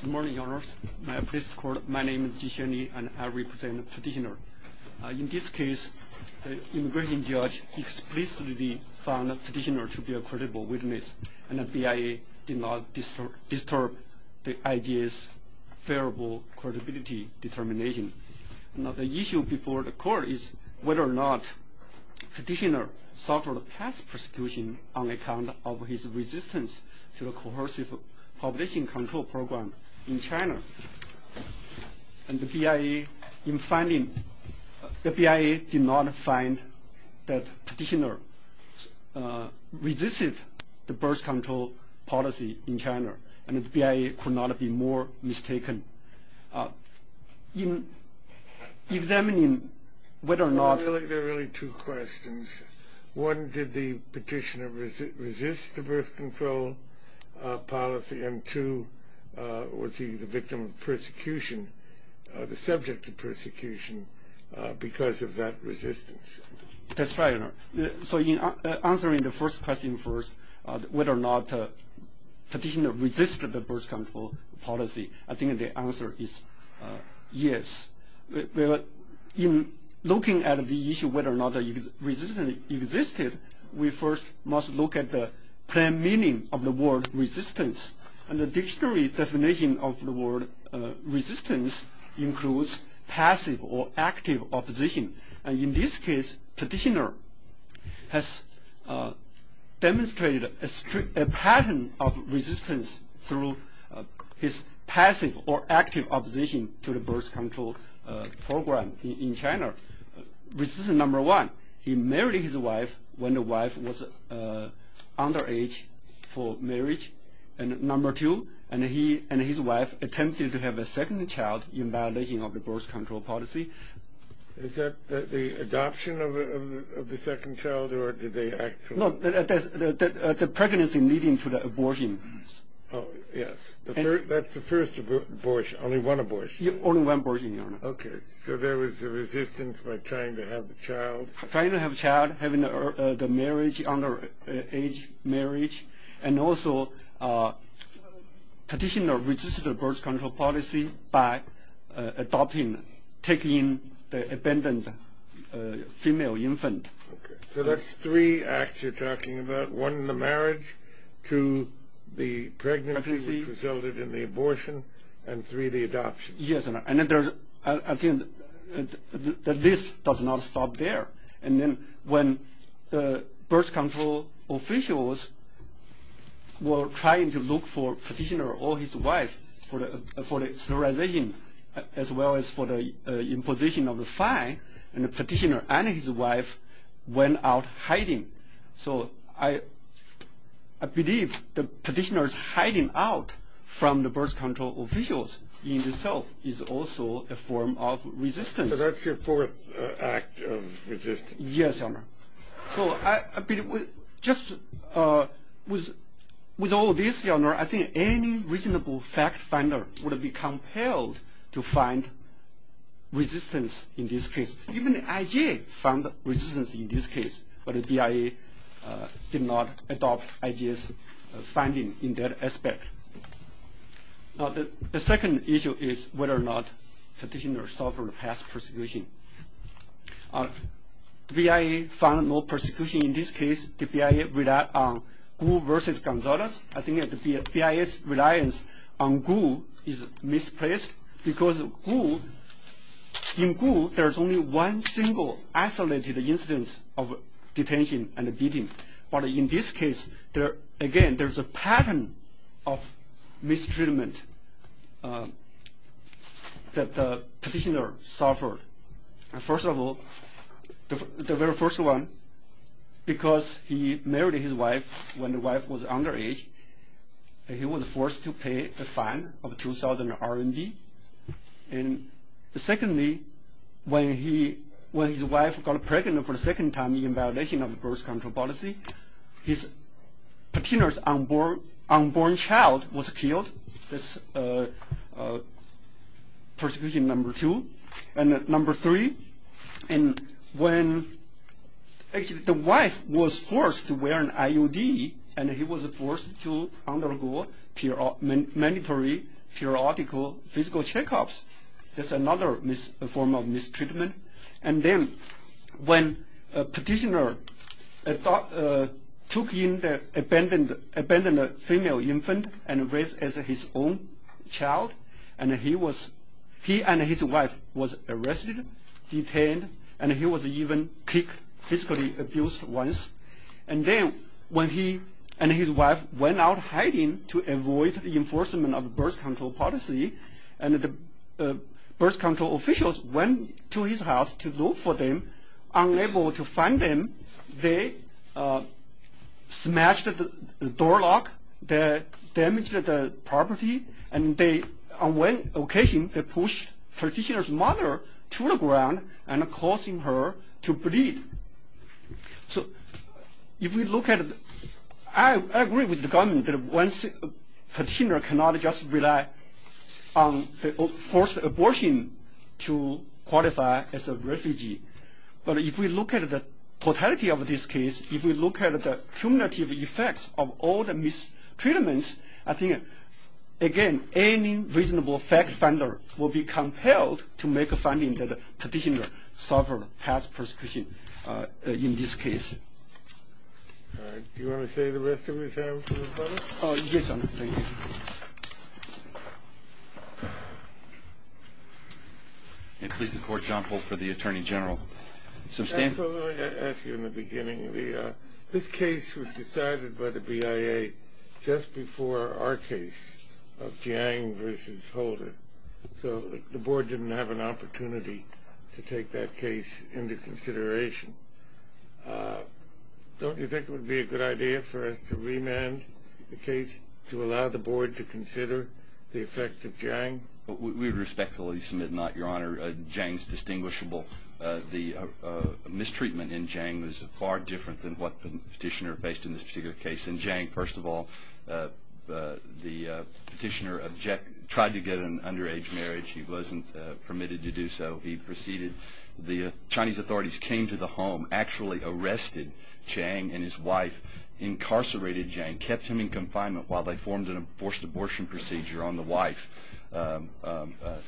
Good morning, Your Honors. My name is Ji Xunyi, and I represent the petitioner. In this case, the immigration judge explicitly found the petitioner to be a credible witness, and the BIA did not disturb the IJ's favorable credibility determination. Now, the issue before the court is whether or not the petitioner suffered past persecution on account of his resistance to the coercive population control program in China. And the BIA, in finding – the BIA did not find that petitioner resisted the birth control policy in China, and the BIA could not be more mistaken. In examining whether or not – There are really two questions. One, did the petitioner resist the birth control policy? And two, was he the victim of persecution, the subject of persecution, because of that resistance? That's right, Your Honor. So in answering the first question first, whether or not the petitioner resisted the birth control policy, I think the answer is yes. In looking at the issue of whether or not resistance existed, we first must look at the plain meaning of the word resistance. And the dictionary definition of the word resistance includes passive or active opposition. And in this case, petitioner has demonstrated a pattern of resistance through his passive or active opposition to the birth control program in China. Resistance number one, he married his wife when the wife was underage for marriage. And number two, he and his wife attempted to have a second child in violation of the birth control policy. Is that the adoption of the second child, or did they actually – No, the pregnancy leading to the abortion. Oh, yes. That's the first abortion, only one abortion. Only one abortion, Your Honor. Okay. So there was a resistance by trying to have the child. Trying to have the child, having the marriage, underage marriage. And also petitioner resisted the birth control policy by adopting, taking in the abandoned female infant. Okay. So that's three acts you're talking about, one, the marriage, two, the pregnancy, which resulted in the abortion, and three, the adoption. Yes, Your Honor. And I think the list does not stop there. And then when the birth control officials were trying to look for petitioner or his wife for the sterilization, as well as for the imposition of the fine, and the petitioner and his wife went out hiding. So I believe the petitioner's hiding out from the birth control officials in itself is also a form of resistance. So that's your fourth act of resistance. Yes, Your Honor. So just with all this, Your Honor, I think any reasonable fact finder would be compelled to find resistance in this case. Even IG found resistance in this case, but the BIA did not adopt IG's finding in that aspect. Now the second issue is whether or not petitioner suffered past persecution. The BIA found no persecution in this case. The BIA relied on Gu versus Gonzalez. I think the BIA's reliance on Gu is misplaced because in Gu there's only one single isolated instance of detention and beating. But in this case, again, there's a pattern of mistreatment that the petitioner suffered. First of all, the very first one, because he married his wife when the wife was underage, he was forced to pay a fine of 2,000 RMB. And secondly, when his wife got pregnant for the second time in violation of the birth control policy, his petitioner's unborn child was killed. That's persecution number two. And number three, when the wife was forced to wear an IUD and he was forced to undergo mandatory periodical physical checkups, that's another form of mistreatment. And then when the petitioner took in the abandoned female infant and raised it as his own child, he and his wife were arrested, detained, and he was even kicked, physically abused once. And then when he and his wife went out hiding to avoid the enforcement of the birth control policy, the birth control officials went to his house to look for them. Unable to find them, they smashed the door lock, damaged the property, and on one occasion they pushed the petitioner's mother to the ground, causing her to bleed. So if we look at it, I agree with the government that the petitioner cannot just rely on forced abortion to qualify as a refugee. But if we look at the totality of this case, if we look at the cumulative effects of all the mistreatments, I think, again, any reasonable fact finder will be compelled to make a finding that the petitioner suffered past persecution in this case. Do you want to say the rest of it, Senator? Yes, thank you. And please, the Court, John Polk for the Attorney General. So, Stan? I thought I'd ask you in the beginning. This case was decided by the BIA just before our case of Jiang versus Holder. So the Board didn't have an opportunity to take that case into consideration. Don't you think it would be a good idea for us to remand the case to allow the Board to consider the effect of Jiang? We would respectfully submit not, Your Honor. Jiang is distinguishable. The mistreatment in Jiang was far different than what the petitioner faced in this particular case. In Jiang, first of all, the petitioner tried to get an underage marriage. He wasn't permitted to do so. He proceeded. The Chinese authorities came to the home, actually arrested Jiang and his wife, incarcerated Jiang, kept him in confinement while they formed a forced abortion procedure on the wife.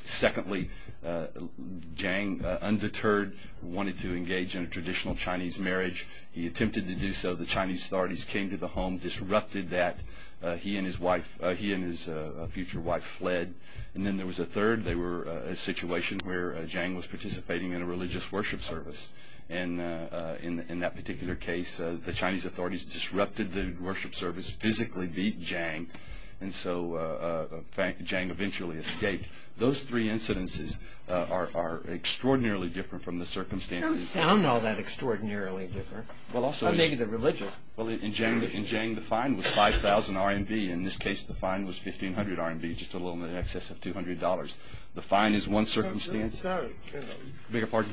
Secondly, Jiang, undeterred, wanted to engage in a traditional Chinese marriage. He attempted to do so. The Chinese authorities came to the home, disrupted that. He and his future wife fled. And then there was a third. They were in a situation where Jiang was participating in a religious worship service. And in that particular case, the Chinese authorities disrupted the worship service, physically beat Jiang. And so Jiang eventually escaped. Those three incidences are extraordinarily different from the circumstances. They don't sound all that extraordinarily different. Maybe they're religious. In Jiang, the fine was 5,000 RMB. In this case, the fine was 1,500 RMB, just a little in excess of $200. The fine is one circumstance. Beg your pardon?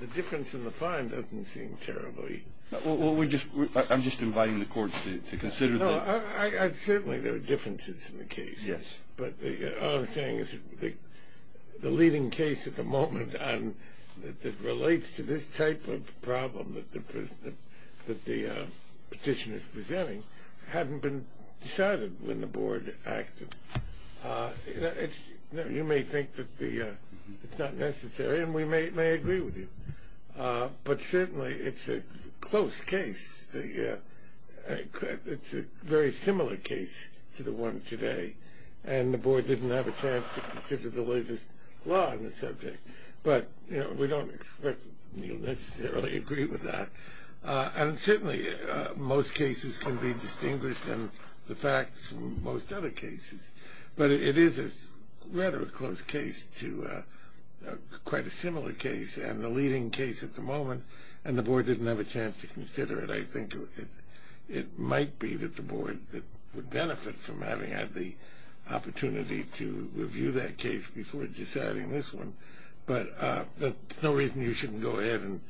The difference in the fine doesn't seem terribly. Well, I'm just inviting the court to consider that. No, certainly there are differences in the case. Yes. But all I'm saying is the leading case at the moment that relates to this type of problem that the petition is presenting hadn't been decided when the board acted. You may think that it's not necessary, and we may agree with you. But certainly it's a close case. It's a very similar case to the one today. And the board didn't have a chance to consider the latest law on the subject. But we don't necessarily agree with that. And certainly most cases can be distinguished in the facts from most other cases. But it is rather a close case to quite a similar case and the leading case at the moment, and the board didn't have a chance to consider it. I think it might be that the board would benefit from having had the opportunity to review that case before deciding this one. But there's no reason you shouldn't go ahead and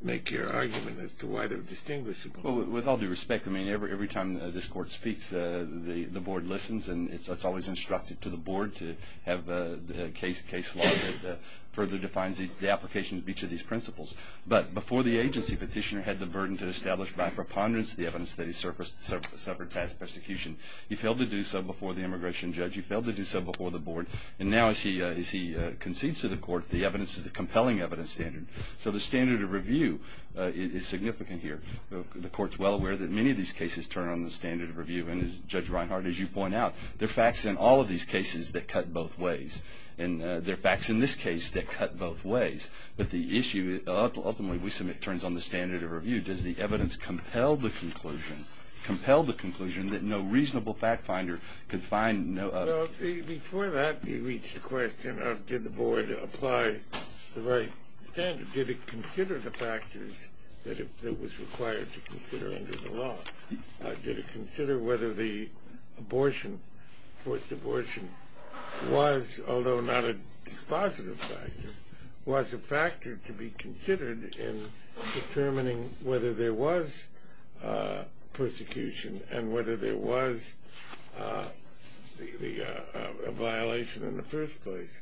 make your argument as to why they're distinguished. Well, with all due respect, I mean, every time this court speaks, the board listens and it's always instructed to the board to have a case law that further defines the application of each of these principles. But before the agency, Petitioner had the burden to establish by preponderance the evidence that he suffered past persecution. He failed to do so before the immigration judge. He failed to do so before the board. And now as he concedes to the court, the evidence is a compelling evidence standard. So the standard of review is significant here. The court's well aware that many of these cases turn on the standard of review. And, Judge Reinhart, as you point out, there are facts in all of these cases that cut both ways. And there are facts in this case that cut both ways. But the issue ultimately we submit turns on the standard of review. Does the evidence compel the conclusion, compel the conclusion that no reasonable fact finder could find no other? Well, before that, you reach the question of did the board apply the right standard? Did it consider the factors that it was required to consider under the law? Did it consider whether the abortion, forced abortion, was, although not a dispositive factor, was a factor to be considered in determining whether there was persecution and whether there was a violation in the first place?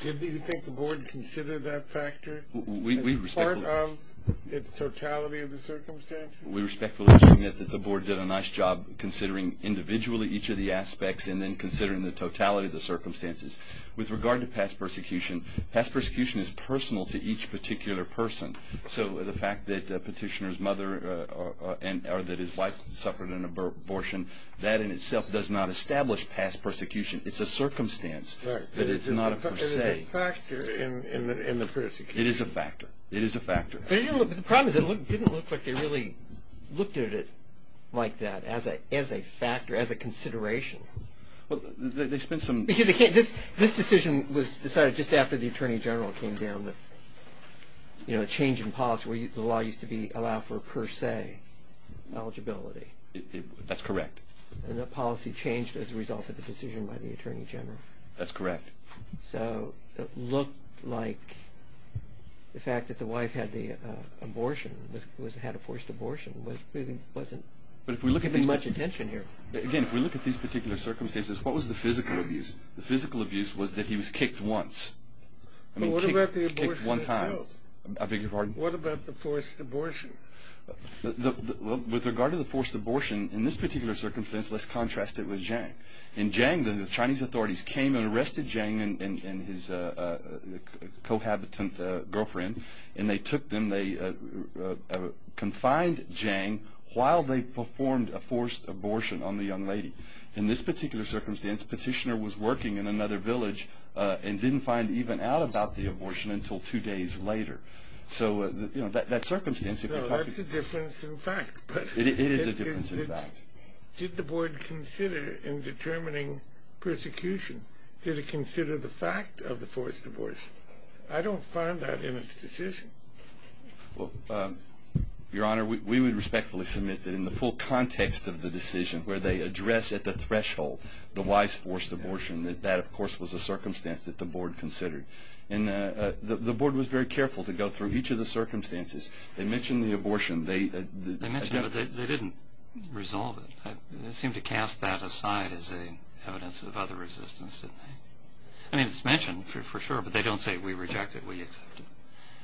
Did you think the board considered that factor as part of its totality of the circumstances? We respectfully submit that the board did a nice job considering individually each of the aspects and then considering the totality of the circumstances. With regard to past persecution, past persecution is personal to each particular person. So the fact that a petitioner's mother or that his wife suffered an abortion, that in itself does not establish past persecution. It's a circumstance, but it's not a per se. Right, but is it a factor in the persecution? It is a factor. It is a factor. But the problem is it didn't look like they really looked at it like that, as a factor, as a consideration. Well, they spent some... This decision was decided just after the Attorney General came down with a change in policy where the law used to allow for per se eligibility. That's correct. And the policy changed as a result of the decision by the Attorney General. That's correct. So it looked like the fact that the wife had the abortion, had a forced abortion, wasn't giving much attention here. Again, if we look at these particular circumstances, what was the physical abuse? The physical abuse was that he was kicked once. Well, what about the abortion itself? I beg your pardon? What about the forced abortion? With regard to the forced abortion, in this particular circumstance, let's contrast it with Zhang. In Zhang, the Chinese authorities came and arrested Zhang and his cohabitant girlfriend, and they took them, they confined Zhang while they performed a forced abortion on the young lady. In this particular circumstance, Petitioner was working in another village and didn't find even out about the abortion until two days later. So, you know, that circumstance... No, that's a difference in fact. It is a difference in fact. Did the board consider in determining persecution, did it consider the fact of the forced abortion? I don't find that in its decision. Well, Your Honor, we would respectfully submit that in the full context of the decision, where they address at the threshold the wife's forced abortion, that that of course was a circumstance that the board considered. And the board was very careful to go through each of the circumstances. They mentioned the abortion. They mentioned it, but they didn't resolve it. They seemed to cast that aside as evidence of other resistance, didn't they? I mean, it's mentioned for sure, but they don't say, we reject it, we accept it,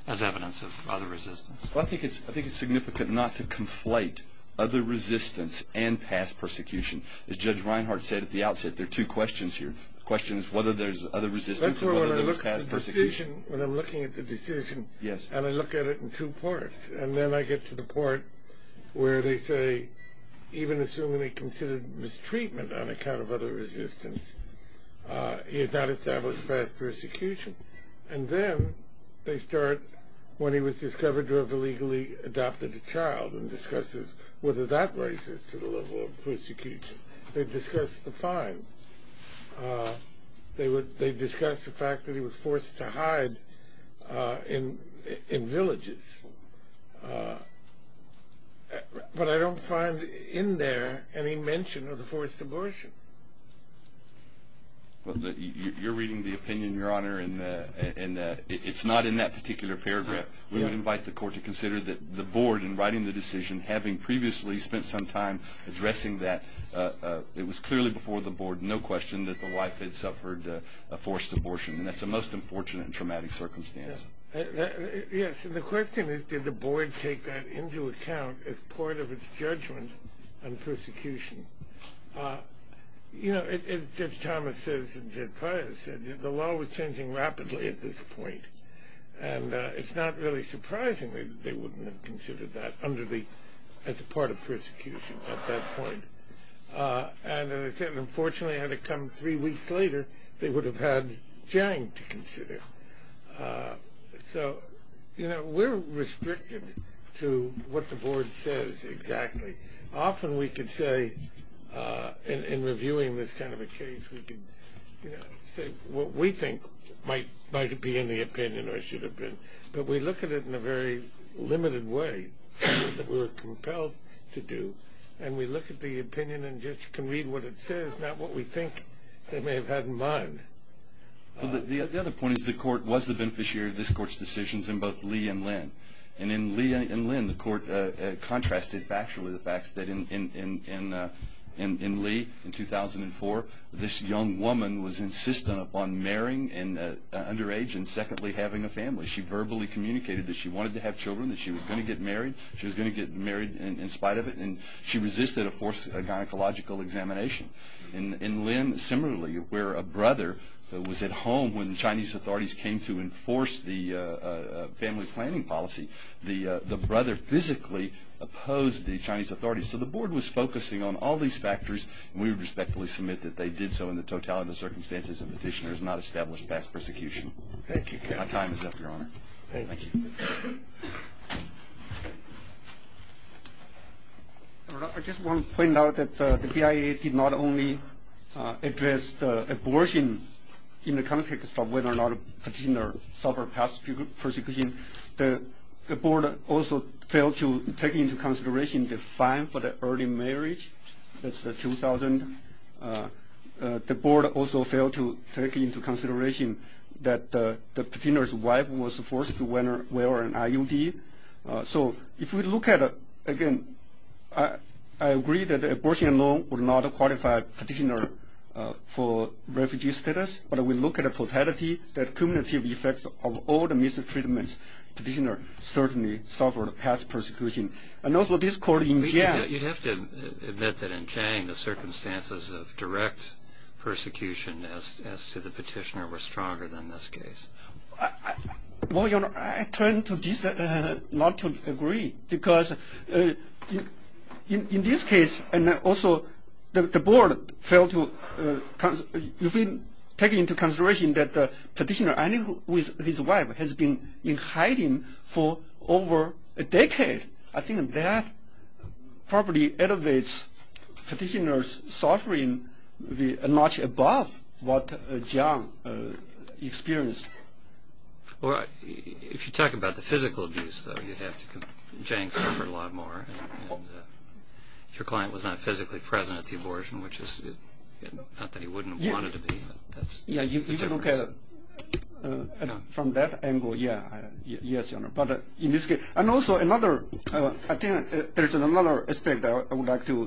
as evidence of other resistance. Well, I think it's significant not to conflate other resistance and past persecution. As Judge Reinhart said at the outset, there are two questions here. The question is whether there's other resistance or whether there's past persecution. That's where when I look at the decision, when I'm looking at the decision, and I look at it in two parts, and then I get to the part where they say, even assuming they considered mistreatment on account of other resistance, he is not established past persecution. And then they start when he was discovered to have illegally adopted a child and discusses whether that raises to the level of persecution. They discuss the fine. They discuss the fact that he was forced to hide in villages. But I don't find in there any mention of the forced abortion. You're reading the opinion, Your Honor, and it's not in that particular paragraph. We would invite the Court to consider that the Board, in writing the decision, having previously spent some time addressing that, it was clearly before the Board, no question, that the wife had suffered a forced abortion, and that's a most unfortunate and traumatic circumstance. Yes, and the question is, did the Board take that into account as part of its judgment on persecution? You know, as Judge Thomas says and Judge Pryor said, the law was changing rapidly at this point, and it's not really surprising that they wouldn't have considered that as a part of persecution at that point. And unfortunately, had it come three weeks later, they would have had Jang to consider. So, you know, we're restricted to what the Board says exactly. Often we could say, in reviewing this kind of a case, we could say what we think might be in the opinion or should have been, but we look at it in a very limited way that we're compelled to do, and we look at the opinion and just can read what it says, not what we think they may have had in mind. Well, the other point is the Court was the beneficiary of this Court's decisions in both Lee and Lynn. And in Lee and Lynn, the Court contrasted factually the facts that in Lee, in 2004, this young woman was insistent upon marrying and underage, and secondly, having a family. She verbally communicated that she wanted to have children, that she was going to get married. She was going to get married in spite of it, and she resisted a forced gynecological examination. In Lynn, similarly, where a brother was at home when Chinese authorities came to enforce the family planning policy, the brother physically opposed the Chinese authorities. So the Board was focusing on all these factors, and we would respectfully submit that they did so in the totality of the circumstances, and the petitioner has not established past persecution. My time is up, Your Honor. I just want to point out that the BIA did not only address abortion in the context of whether or not a petitioner suffered past persecution. The Board also failed to take into consideration the fine for the early marriage. That's the $2,000. The Board also failed to take into consideration that the petitioner's wife was forced to wear an IUD. So if we look at it again, I agree that abortion alone would not qualify a petitioner for refugee status, but if we look at the totality, the cumulative effects of all the mistreatments, the petitioner certainly suffered past persecution. You'd have to admit that in Chiang, the circumstances of direct persecution as to the petitioner were stronger than this case. Well, Your Honor, I turn to this not to agree, because in this case, the Board failed to take into consideration that the petitioner, finding that his wife has been in hiding for over a decade, I think that probably elevates petitioner's suffering much above what Chiang experienced. If you talk about the physical abuse, though, you'd have to... Chiang suffered a lot more. If your client was not physically present at the abortion, which is... not that he wouldn't have wanted to be, but that's... Yeah, you can look at it from that angle, yeah. Yes, Your Honor. But in this case... And also, another... I think there's another aspect I would like to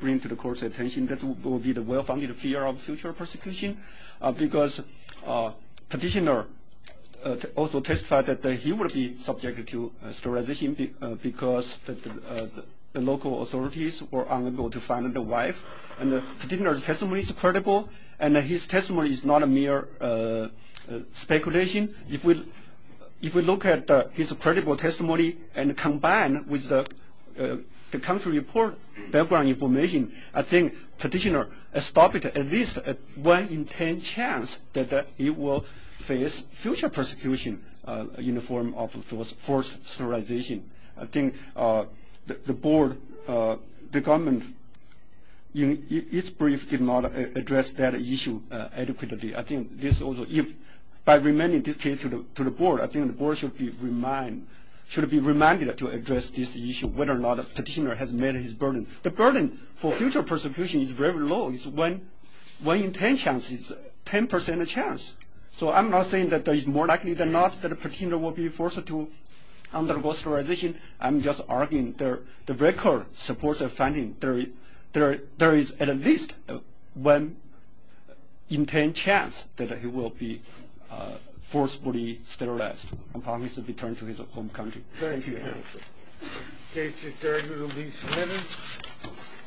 bring to the Court's attention, that will be the well-founded fear of future persecution, because petitioner also testified that he would be subjected to sterilization because the local authorities were unable to find the wife, and the petitioner's testimony is credible, and his testimony is not a mere speculation. If we look at his credible testimony and combine with the country report background information, I think petitioner stopped at least one in ten chance that he will face future persecution in the form of forced sterilization. I think the Board, the government, in its brief, did not address that issue adequately. I think this also... By reminding this case to the Board, I think the Board should be reminded to address this issue, whether or not the petitioner has met his burden. The burden for future persecution is very low. It's one in ten chances, 10% chance. So I'm not saying that it's more likely than not that a petitioner will be forced to undergo sterilization. I'm just arguing that the record supports the finding that there is at least one in ten chance that he will be forcefully sterilized and promised to return to his home country. Thank you, Your Honor. The case is adjourned with at least a minute.